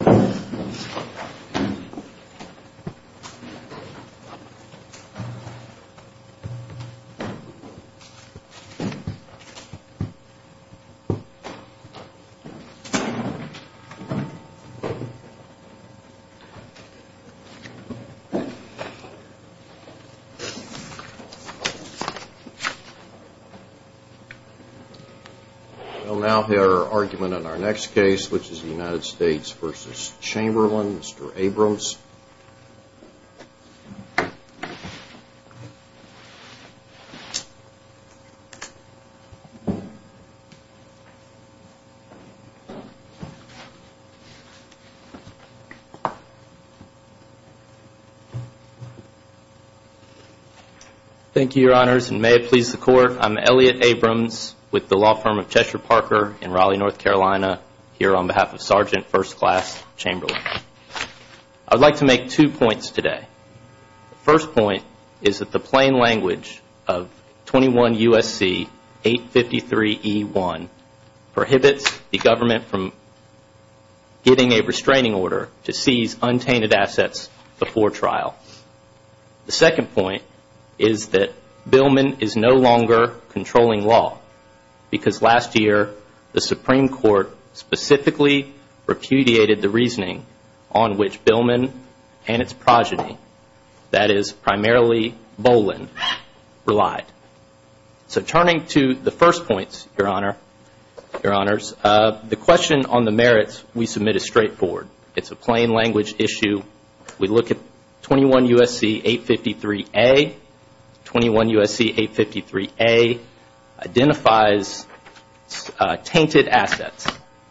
I will now hear our argument on our next case, which is the United States v. Trump. Mr. Chamberlain, Mr. Abrams. Thank you, your honors, and may it please the court, I'm Elliott Abrams with the law Chamberlain. I would like to make two points today. The first point is that the plain language of 21 U.S.C. 853E1 prohibits the government from getting a restraining order to seize untainted assets before trial. The second point is that Billman is no longer controlling law because last year the Supreme Court specifically repudiated the reasoning on which Billman and its progeny, that is primarily Boland, relied. So turning to the first points, your honors, the question on the merits we submit is straightforward. It's a plain language issue. We look at 21 U.S.C. 853A. 21 U.S.C. 853A prohibits the government from seizing untainted assets,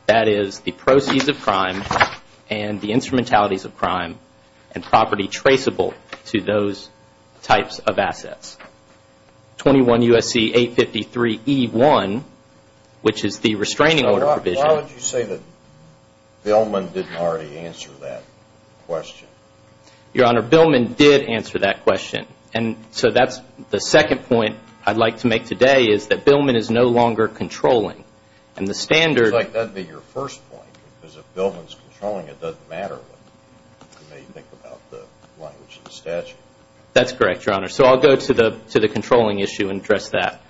that is, the proceeds of crime and the instrumentalities of crime and property traceable to those types of assets. 21 U.S.C. 853E1, which is the restraining order provision. So why would you say that Billman didn't already answer that question? Your honor, Billman did answer that question. So that's the second point I'd like to make today is that Billman is no longer controlling. And the standard It's like that would be your first point, because if Billman's controlling it doesn't matter what you may think about the language of the statute. That's correct, your honor. So I'll go to the controlling issue and address that.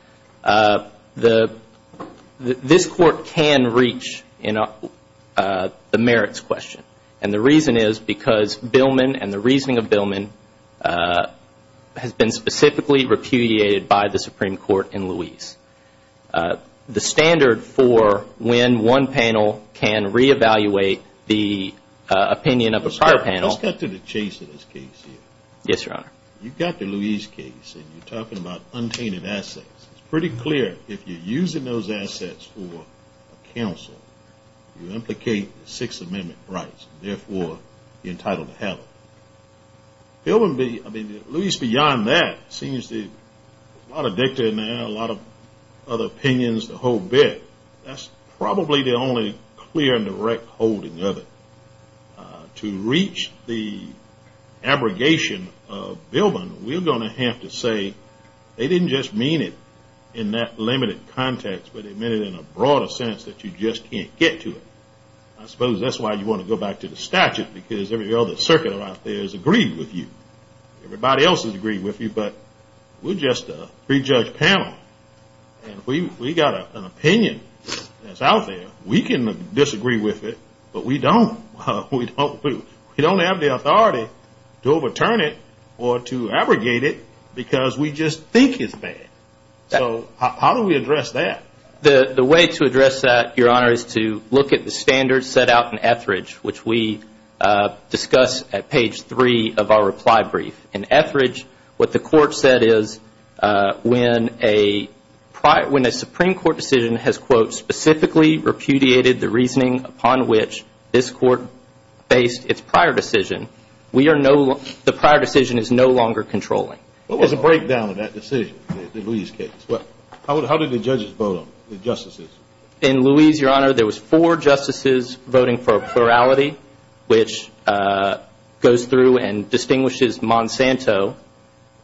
This court can reach the merits question. And the reason is because Billman and the reasoning of Billman has been specifically repudiated by the Supreme Court in Louise. The standard for when one panel can re-evaluate the opinion of a prior panel Let's get to the chase of this case here. Yes, your honor. You got the Louise case and you're talking about untainted assets. It's pretty clear if you're using those assets for counsel, you implicate the Sixth Amendment rights and therefore you're entitled to have them. Billman, at least beyond that, seems to have a lot of dicta in there, a lot of other opinions, the whole bit. That's probably the only clear and direct holding of it. To reach the abrogation of Billman, we're going to have to say they didn't just mean it in that limited context, but they meant it in a broader sense that you just can't get to it. I suppose that's why you want to go back to the statute because every other circuit out there has agreed with you. Everybody else has agreed with you, but we're just a pre-judge panel. And if we got an opinion that's out there, we can disagree with it, but we don't. We don't have the authority to overturn it or to abrogate it because we just think it's bad. So how do we address that? The way to address that, Your Honor, is to look at the standards set out in Etheridge, which we discuss at page 3 of our reply brief. In Etheridge, what the Court said is when a Supreme Court decision has, quote, specifically repudiated the reasoning upon which this Court based its prior decision, the prior decision is no longer controlling. What was the breakdown of that decision, in Louise's case? How did the judges vote on it, the justices? In Louise, Your Honor, there was four justices voting for a plurality, which goes through and distinguishes Monsanto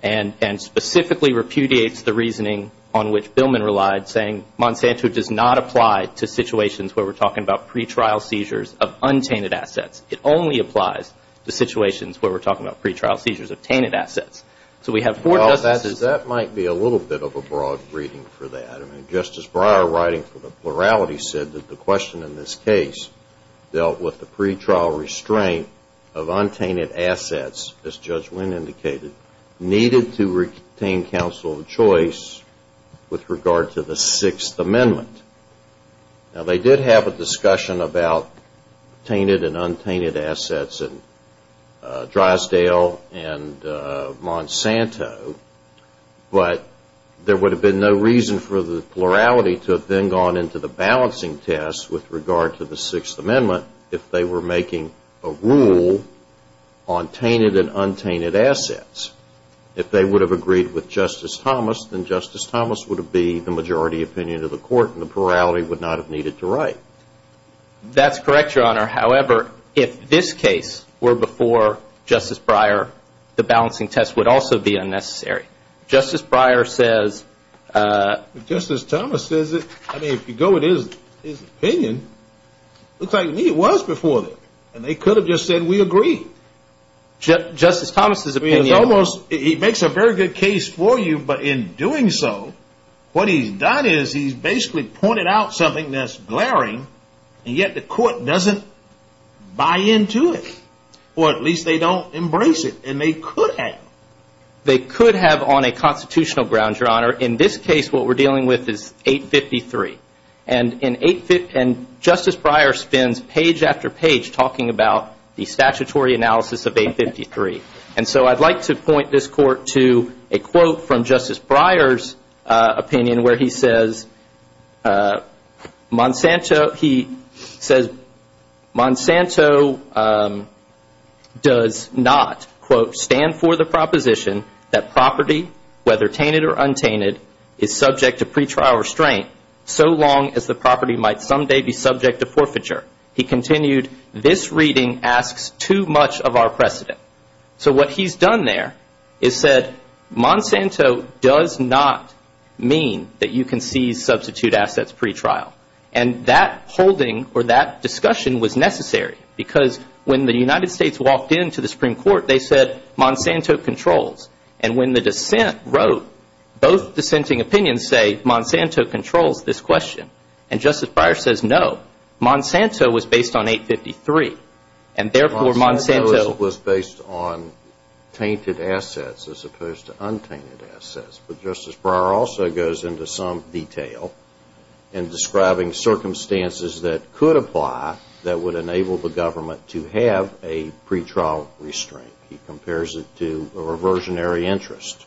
and specifically repudiates the reasoning on which Billman relied, saying Monsanto does not apply to situations where we're talking about pretrial seizures of untainted assets. It only applies to situations where we're talking about pretrial seizures. Well, that might be a little bit of a broad reading for that. I mean, Justice Breyer writing for the plurality said that the question in this case dealt with the pretrial restraint of untainted assets, as Judge Wynn indicated, needed to retain counsel of choice with regard to the Sixth Amendment. Now, they did have a discussion about tainted and untainted assets in Drysdale and Monsanto, but there would have been no reason for the plurality to have then gone into the balancing test with regard to the Sixth Amendment if they were making a rule on tainted and untainted assets. If they would have agreed with Justice Thomas, then Justice Thomas would have been the majority opinion of the Court and the plurality would not have needed to write. That's correct, Your Honor. However, if this case were before Justice Breyer, the balancing test would also be unnecessary. Justice Breyer says... Justice Thomas says it. I mean, if you go with his opinion, it looks like to me it was before then, and they could have just said, we agree. Justice Thomas' opinion... It's almost... He makes a very good case for you, but in doing so, what he's done is he's basically pointed out something that's glaring, and yet the Court doesn't buy into it, or at least they don't embrace it, and they could have. They could have on a constitutional ground, Your Honor. In this case, what we're dealing with is 853, and Justice Breyer spends page after page talking about the statutory analysis of 853, and so I'd like to point this Court to a quote from Justice Breyer's opinion where he says, Monsanto does not, quote, stand for the proposition that property, whether tainted or untainted, is subject to pretrial restraint so long as the property might someday be subject to forfeiture. He continued, this reading asks too much of our precedent. So what he's done there is said, Monsanto does not mean that you can seize substitute assets pretrial, and that holding or that discussion was necessary because when the United States walked into the Supreme Court, they said Monsanto controls, and when the dissent wrote, both dissenting opinions say Monsanto controls this question, and Justice Breyer says no. Monsanto was based on 853, and therefore Monsanto... Based on tainted assets as opposed to untainted assets, but Justice Breyer also goes into some detail in describing circumstances that could apply that would enable the government to have a pretrial restraint. He compares it to a reversionary interest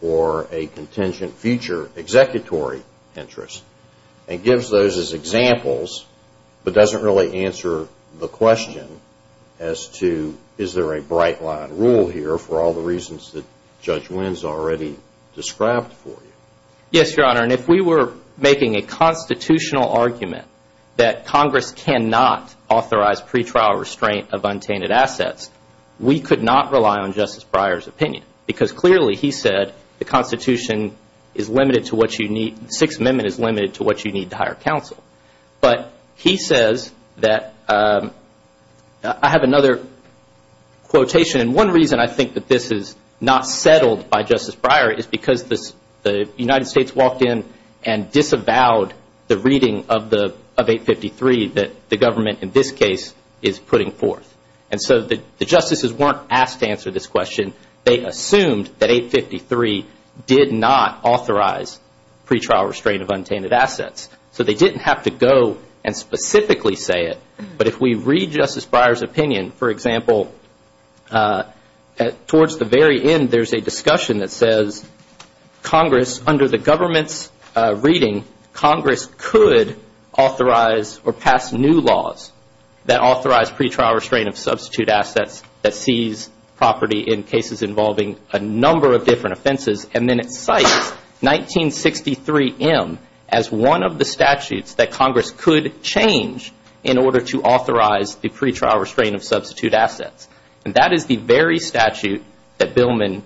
or a contingent future executory interest, and gives those as examples, but doesn't really answer the pipeline rule here for all the reasons that Judge Wynn's already described for you. Yes, Your Honor, and if we were making a constitutional argument that Congress cannot authorize pretrial restraint of untainted assets, we could not rely on Justice Breyer's opinion, because clearly he said the Constitution is limited to what you need, the Sixth Amendment is limited to what you need to hire counsel. But he says that, I have another quotation from Justice Breyer, and one reason I think that this is not settled by Justice Breyer is because the United States walked in and disavowed the reading of 853 that the government in this case is putting forth. And so the justices weren't asked to answer this question. They assumed that 853 did not authorize pretrial restraint of untainted assets. So they didn't have to go and specifically say it, but if we read Justice Breyer's opinion, for example, towards the very end there's a discussion that says Congress, under the government's reading, Congress could authorize or pass new laws that authorize pretrial restraint of substitute assets that seize property in cases involving a number of different offenses, and then it cites 1963M as one of the statutes that Congress could change in order to authorize the pretrial restraint of substitute assets. And that is the very statute that Billman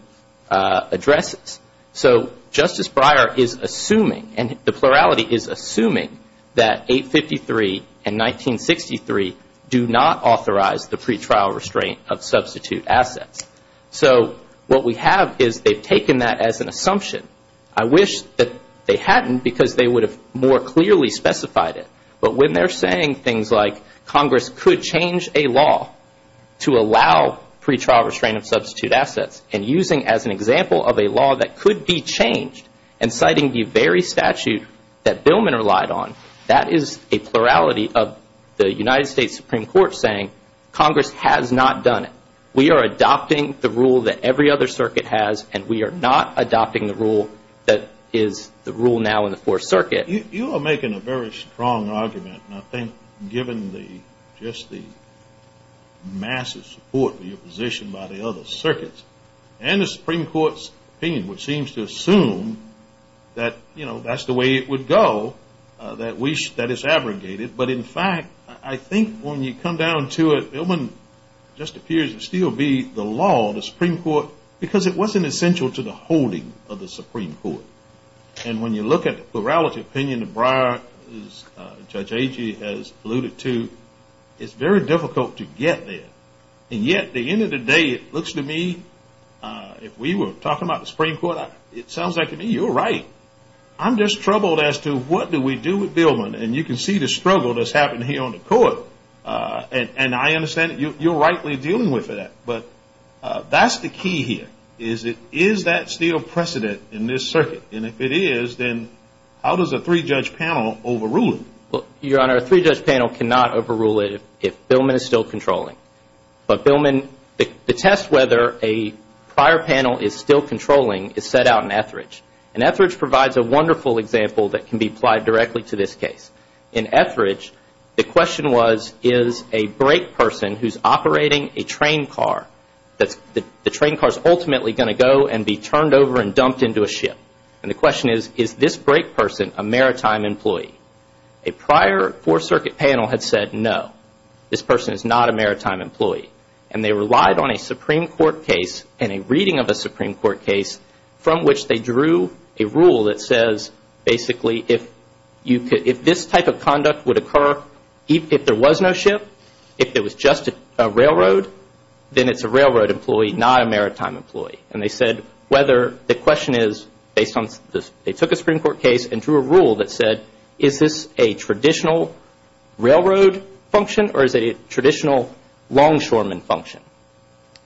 addresses. So Justice Breyer is assuming and the plurality is assuming that 853 and 1963 do not authorize the pretrial restraint of substitute assets. So what we have is they've taken that as an assumption. I wish that they hadn't because they would have more clearly specified it. But when they're saying things like Congress could change a law to allow pretrial restraint of substitute assets and using as an example of a law that could be changed and citing the very statute that Billman relied on, that is a plurality of the United States Supreme Court saying Congress has not done it. We are adopting the rule that every other circuit has, and we are not adopting the rule that is the rule now in the Fourth Circuit. You are making a very strong argument, and I think given just the massive support for your position by the other circuits and the Supreme Court's opinion, which seems to assume that that's the way it would go, that it's abrogated. But in fact, I think when you come to the Supreme Court, you have to be the law of the Supreme Court because it wasn't essential to the holding of the Supreme Court. And when you look at the plurality of opinion that Briar, Judge Agee has alluded to, it's very difficult to get there. And yet at the end of the day, it looks to me, if we were talking about the Supreme Court, it sounds like to me you're right. I'm just troubled as to what do we do with Billman, and you can see the struggle that's happening here on the court. And I understand that you're rightly dealing with that, but that's the key here. Is it, is that still precedent in this circuit? And if it is, then how does a three-judge panel overrule it? Your Honor, a three-judge panel cannot overrule it if Billman is still controlling. But Billman, the test whether a prior panel is still controlling is set out in Etheridge. And Etheridge provides a wonderful example that can be applied directly to this case. In Etheridge, the question was is a brake person who's operating a train car, the train car is ultimately going to go and be turned over and dumped into a ship. And the question is, is this brake person a maritime employee? A prior four-circuit panel had said no, this person is not a maritime employee. And they relied on a Supreme Court case and a reading of a Supreme Court case from which they drew a rule that says basically if this type of conduct would occur, if there was no ship, if it was just a railroad, then it's a railroad employee, not a maritime employee. And they said whether, the question is based on, they took a Supreme Court case and drew a rule that said is this a traditional railroad function or is it a traditional long shoreman function?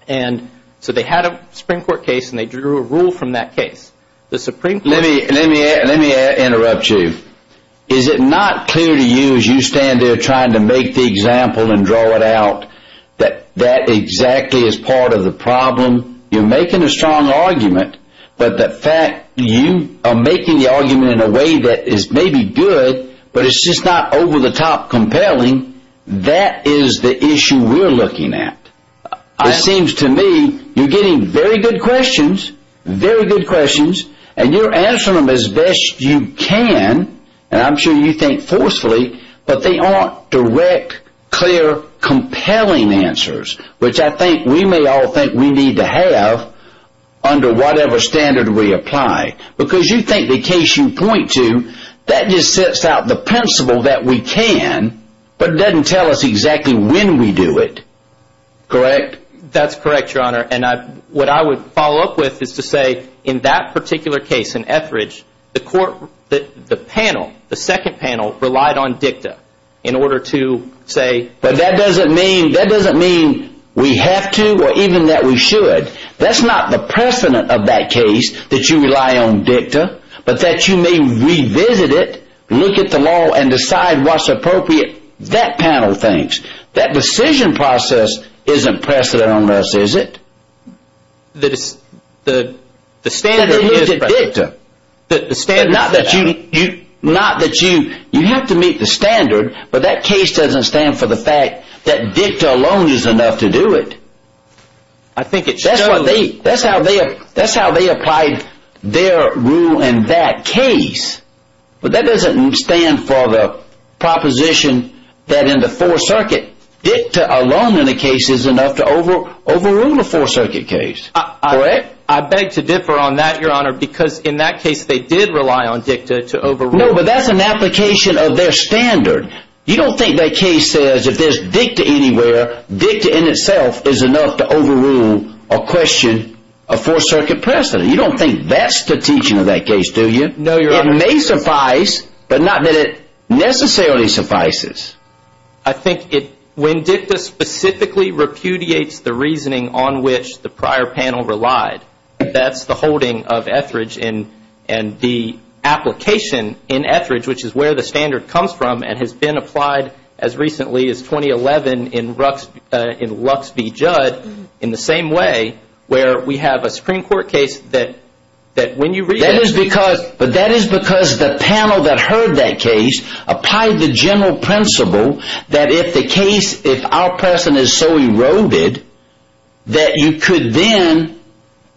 And so they had a Supreme Court case and they drew a rule from that case. The Supreme Court. Let me, let me, let me interrupt you. Is it not clear to you as you stand there trying to make the example and draw it out that that exactly is part of the problem? You're making a strong argument, but the fact you are making the argument in a way that is maybe good, but it's just not over-the-top compelling, that is the issue we're looking at. It seems to me you're getting very good questions, very good questions, and you're answering them as best you can, and I'm sure you think forcefully, but they aren't direct, clear, compelling answers, which I think we may all think we need to have under whatever standard we apply. Because you think the case you point to, that just sets out the principle that we can, but it doesn't tell us exactly when we do it. Correct? That's correct, Your Honor, and I, what I would follow up with is to say in that particular case in Etheridge, the court, the panel, the second panel relied on dicta in order to say But that doesn't mean, that doesn't mean we have to or even that we should. That's not the precedent of that case that you rely on dicta, but that you may revisit it, look at the law, and decide what's appropriate, that panel thinks. That decision process isn't precedent on us, is it? That it's, the standard is precedent. Not that you, not that you, you have to meet the standard, but that case doesn't stand for the fact that dicta alone is enough to do it. I think it shows. That's what they, that's how they, that's how they applied their rule in that case, but that doesn't stand for the proposition that in the Fourth Circuit, dicta alone in a case is enough to overrule a Fourth Circuit case. Correct? I beg to differ on that, Your Honor, because in that case they did rely on dicta to overrule. No, but that's an application of their standard. You don't think that case says if there's dicta anywhere, dicta in itself is enough to overrule a question of Fourth Circuit precedent. You don't think that's the teaching of that case, do you? No, Your Honor. It may suffice, but not that it necessarily suffices. I think it, when dicta specifically repudiates the reasoning on which the prior panel relied, that's the holding of Etheridge and the application in Etheridge, which is where the standard comes from and has been applied as recently as 2011 in Lux v. Judd, in the same way where we have a Supreme Court case that when you read it. That is because, but that is because the panel that heard that case applied the general principle that if the case, if our precedent is so eroded, that you could then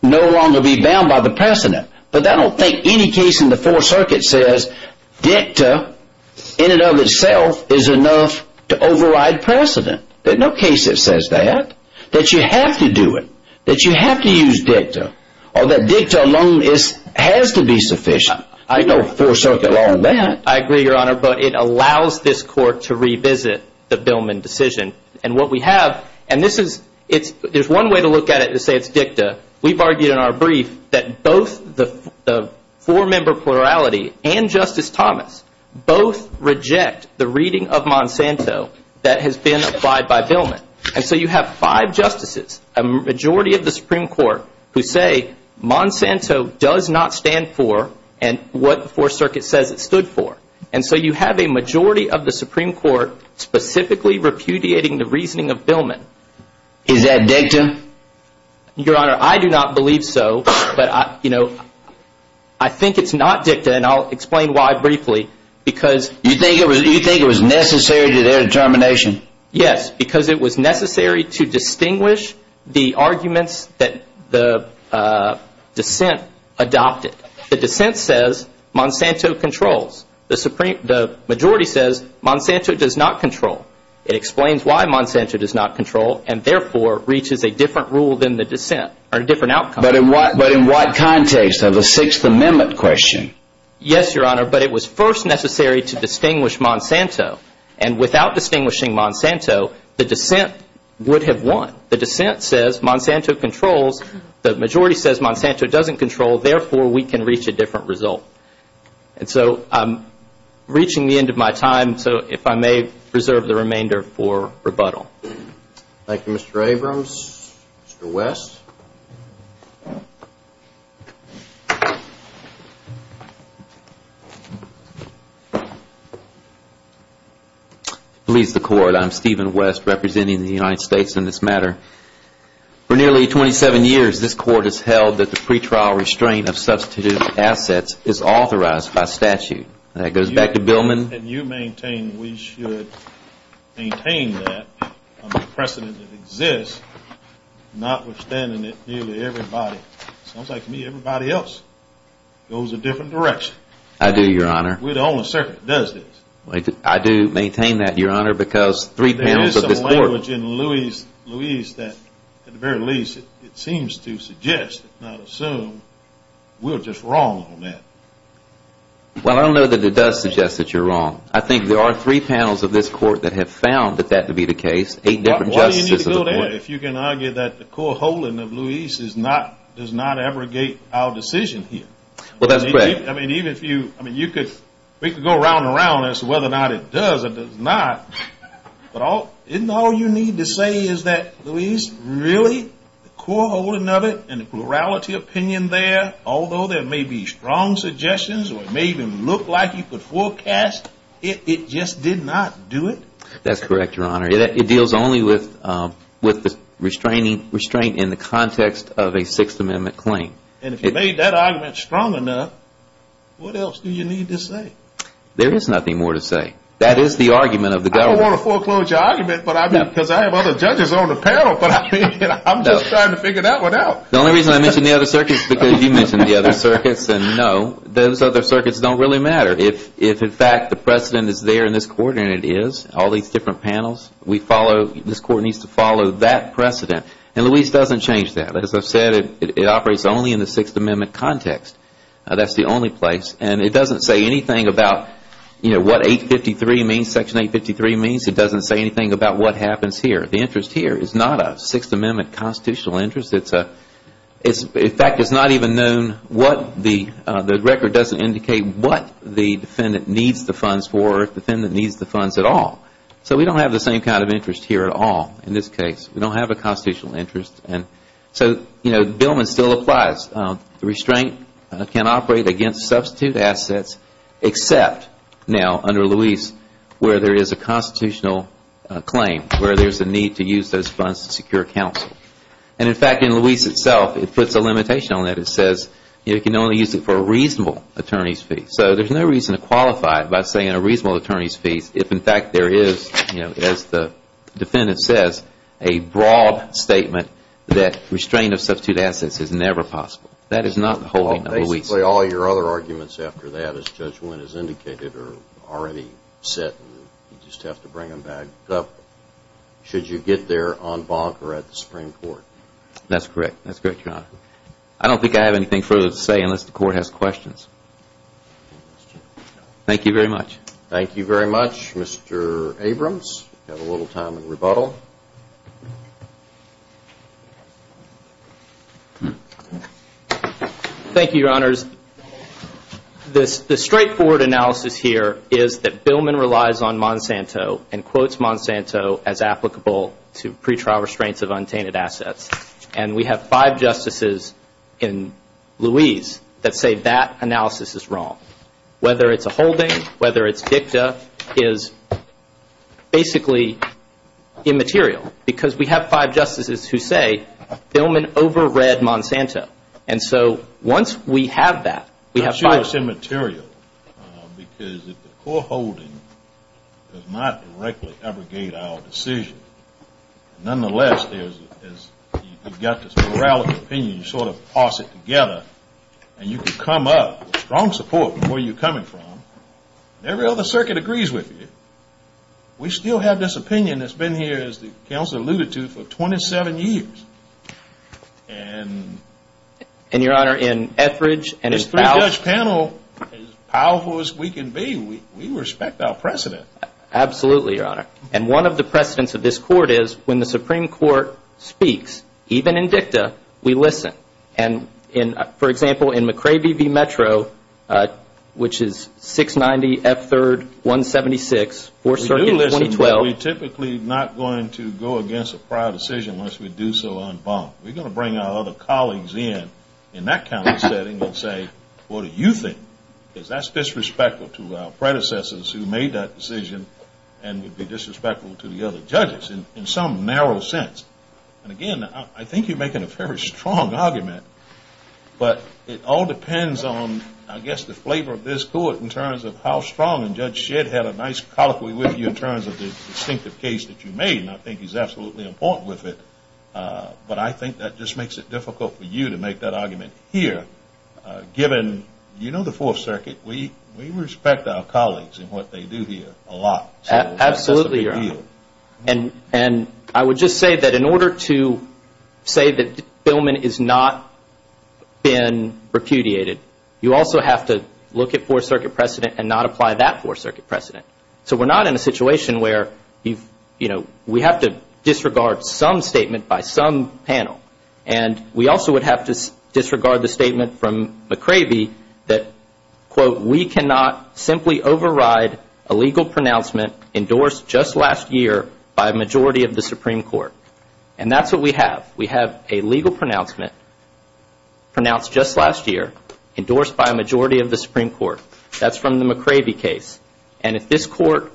no longer be bound by the precedent. But I don't think any case in the Fourth Circuit says dicta in and of itself is enough to override precedent. There's no case that says that. That you have to do it. That you have to use dicta. Or that dicta alone has to be sufficient. There's no Fourth Circuit law on that. I agree, Your Honor, but it allows this Court to revisit the Billman decision. And what we have, and this is, there's one way to look at it and say it's dicta. We've argued in our brief that both the four-member plurality and Justice Thomas both reject the reading of Monsanto that has been applied by Billman. And so you have five justices, a majority of the Supreme Court, who say Monsanto does not stand for what the Fourth Circuit says it stood for. And so you have a majority of the Supreme Court specifically repudiating the reasoning of Billman. Is that dicta? Your Honor, I do not believe so. But, you know, I think it's not dicta. And I'll explain why briefly. Because You think it was necessary to their determination? Yes. Because it was necessary to distinguish the arguments that the dissent adopted. The dissent says Monsanto controls. The majority says Monsanto does not control. It explains why Monsanto does not control and, therefore, reaches a different rule than the dissent or a different outcome. But in what context of the Sixth Amendment question? Yes, Your Honor. But it was first necessary to distinguish Monsanto. And without distinguishing Monsanto, the dissent would have won. The dissent says Monsanto controls. The majority says Monsanto doesn't control. Therefore, we can reach a different result. And so I'm reaching the end of my time. So, if I may, reserve the remainder for rebuttal. Thank you, Mr. Abrams. Mr. West? Beliefs of the Court. I'm Stephen West, representing the United States in this matter. For nearly 27 years, this Court has held that the pretrial restraint of substituted assets is authorized by statute. And that goes back to Billman. And you maintain we should maintain that, under the precedent that exists, notwithstanding that nearly everybody, it sounds like to me, everybody else, goes a different direction. I do, Your Honor. We're the only circuit that does this. I do maintain that, Your Honor, because three panels of this Court There is some language in Louise that, at the very least, it seems to suggest, if not Well, I don't know that it does suggest that you're wrong. I think there are three panels of this Court that have found that that to be the case. Eight different justices of the Court. Why do you need to go there if you can argue that the co-holding of Louise is not, does not abrogate our decision here? Well, that's correct. I mean, even if you, I mean, you could, we could go around and around as to whether or not it does or does not. But all, isn't all you need to say is that, Louise, really, the argument may be strong suggestions, or it may even look like you could forecast, it just did not do it? That's correct, Your Honor. It deals only with the restraining, restraint in the context of a Sixth Amendment claim. And if you made that argument strong enough, what else do you need to say? There is nothing more to say. That is the argument of the government. I don't want to foreclose your argument, but I mean, because I have other judges on the panel, but I mean, I'm just trying to figure that one out. The only reason I mention the other circuits is because you mentioned the other circuits, and no, those other circuits don't really matter. If, in fact, the precedent is there in this Court, and it is, all these different panels, we follow, this Court needs to follow that precedent. And Louise doesn't change that. As I've said, it operates only in the Sixth Amendment context. That's the only place. And it doesn't say anything about, you know, what 853 means, Section 853 means. It doesn't say anything about what happens here. The interest here is not a Sixth Amendment constitutional interest. In fact, it's not even known what the record doesn't indicate what the defendant needs the funds for, or if the defendant needs the funds at all. So we don't have the same kind of interest here at all in this case. We don't have a constitutional interest. And so, you know, Billman still applies. The restraint can operate against substitute assets, except now, under Louise, where there is a constitutional claim, where there is a need to use those funds to secure counsel. And in fact, in Louise itself, it puts a limitation on that. It says, you can only use it for a reasonable attorney's fee. So there's no reason to qualify it by saying a reasonable attorney's fee if, in fact, there is, you know, as the defendant says, a broad statement that restraint of substitute assets is never possible. That is not the holding of Louise. Basically, all your other arguments after that, as Judge Wynn has indicated, are already set, and you just have to bring them back up. Should you get there on bonk or at the Supreme Court? That's correct. That's correct, Your Honor. I don't think I have anything further to say unless the Court has questions. Thank you very much. Thank you very much. Mr. Abrams, you have a little time in rebuttal. Thank you, Your Honors. The straightforward analysis here is that Billman relies on Monsanto and quotes Monsanto as applicable to pretrial restraints of untainted assets. And we have five justices in Louise that say that analysis is wrong. Whether it's a holding, whether it's dicta, is basically immaterial because we have five justices who say Billman over-read Monsanto. And so, once we have that, we have five. It's immaterial because if the core holding does not directly abrogate our decision, nonetheless, as you've got this moral opinion, you sort of toss it together, and you can come up with strong support from where you're coming from, and every other circuit agrees with you. We still have this opinion that's been here, as the Counselor alluded to, for 27 years. And, Your Honor, in Etheridge and in Fowler's panel, as powerful as we can be, we respect our precedents. Absolutely, Your Honor. And one of the precedents of this Court is when the Supreme Court speaks, even in dicta, we listen. And, for example, in McCravey v. Metro, which is 690 F3rd 176, 4th Circuit, 2012. We're typically not going to go against a prior decision unless we do so on bond. We're going to bring our other colleagues in, in that kind of setting, and say, what do you think? Because that's disrespectful to our predecessors who made that decision, and would be disrespectful to the other judges, in some narrow sense. And, again, I think you're making a very strong argument, but it all depends on, I guess, the flavor of this Court in terms of how strong, and Judge Shedd had a nice colloquy with you in terms of the distinctive case that you made, and I think he's absolutely important with it. But I think that just makes it difficult for you to make that argument here, given, you know the 4th Circuit, we respect our colleagues in what they do here a lot. Absolutely, Your Honor. And I would just say that in order to say that Billman has not been repudiated, you also have to look at 4th Circuit precedent and not apply that 4th Circuit precedent. So we're not in a situation where we have to disregard some statement by some panel, and we also would have to disregard the statement from McCravey that, quote, we cannot simply override a legal pronouncement endorsed just last year by a majority of the Supreme Court. And that's what we have. We have a legal pronouncement pronounced just last year, endorsed by a majority of the Supreme Court. That's from the McCravey case. And if this Court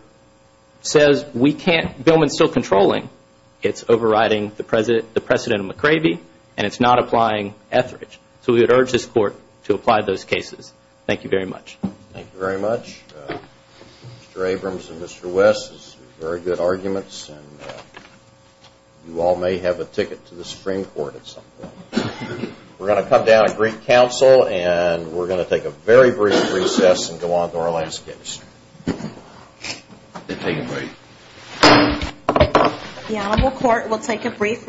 says we can't, Billman's still controlling, it's overriding the precedent of McCravey, and it's not applying Etheridge. So we would urge this Court to apply those cases. Thank you very much. Thank you very much. Mr. Abrams and Mr. West, those are very good arguments, and you all may have a ticket to the Supreme Court at some point. We're going to come down and greet counsel, and we're going to take a very brief recess and go on to our last case. We'll take a break. The Honorable Court will take a brief recess.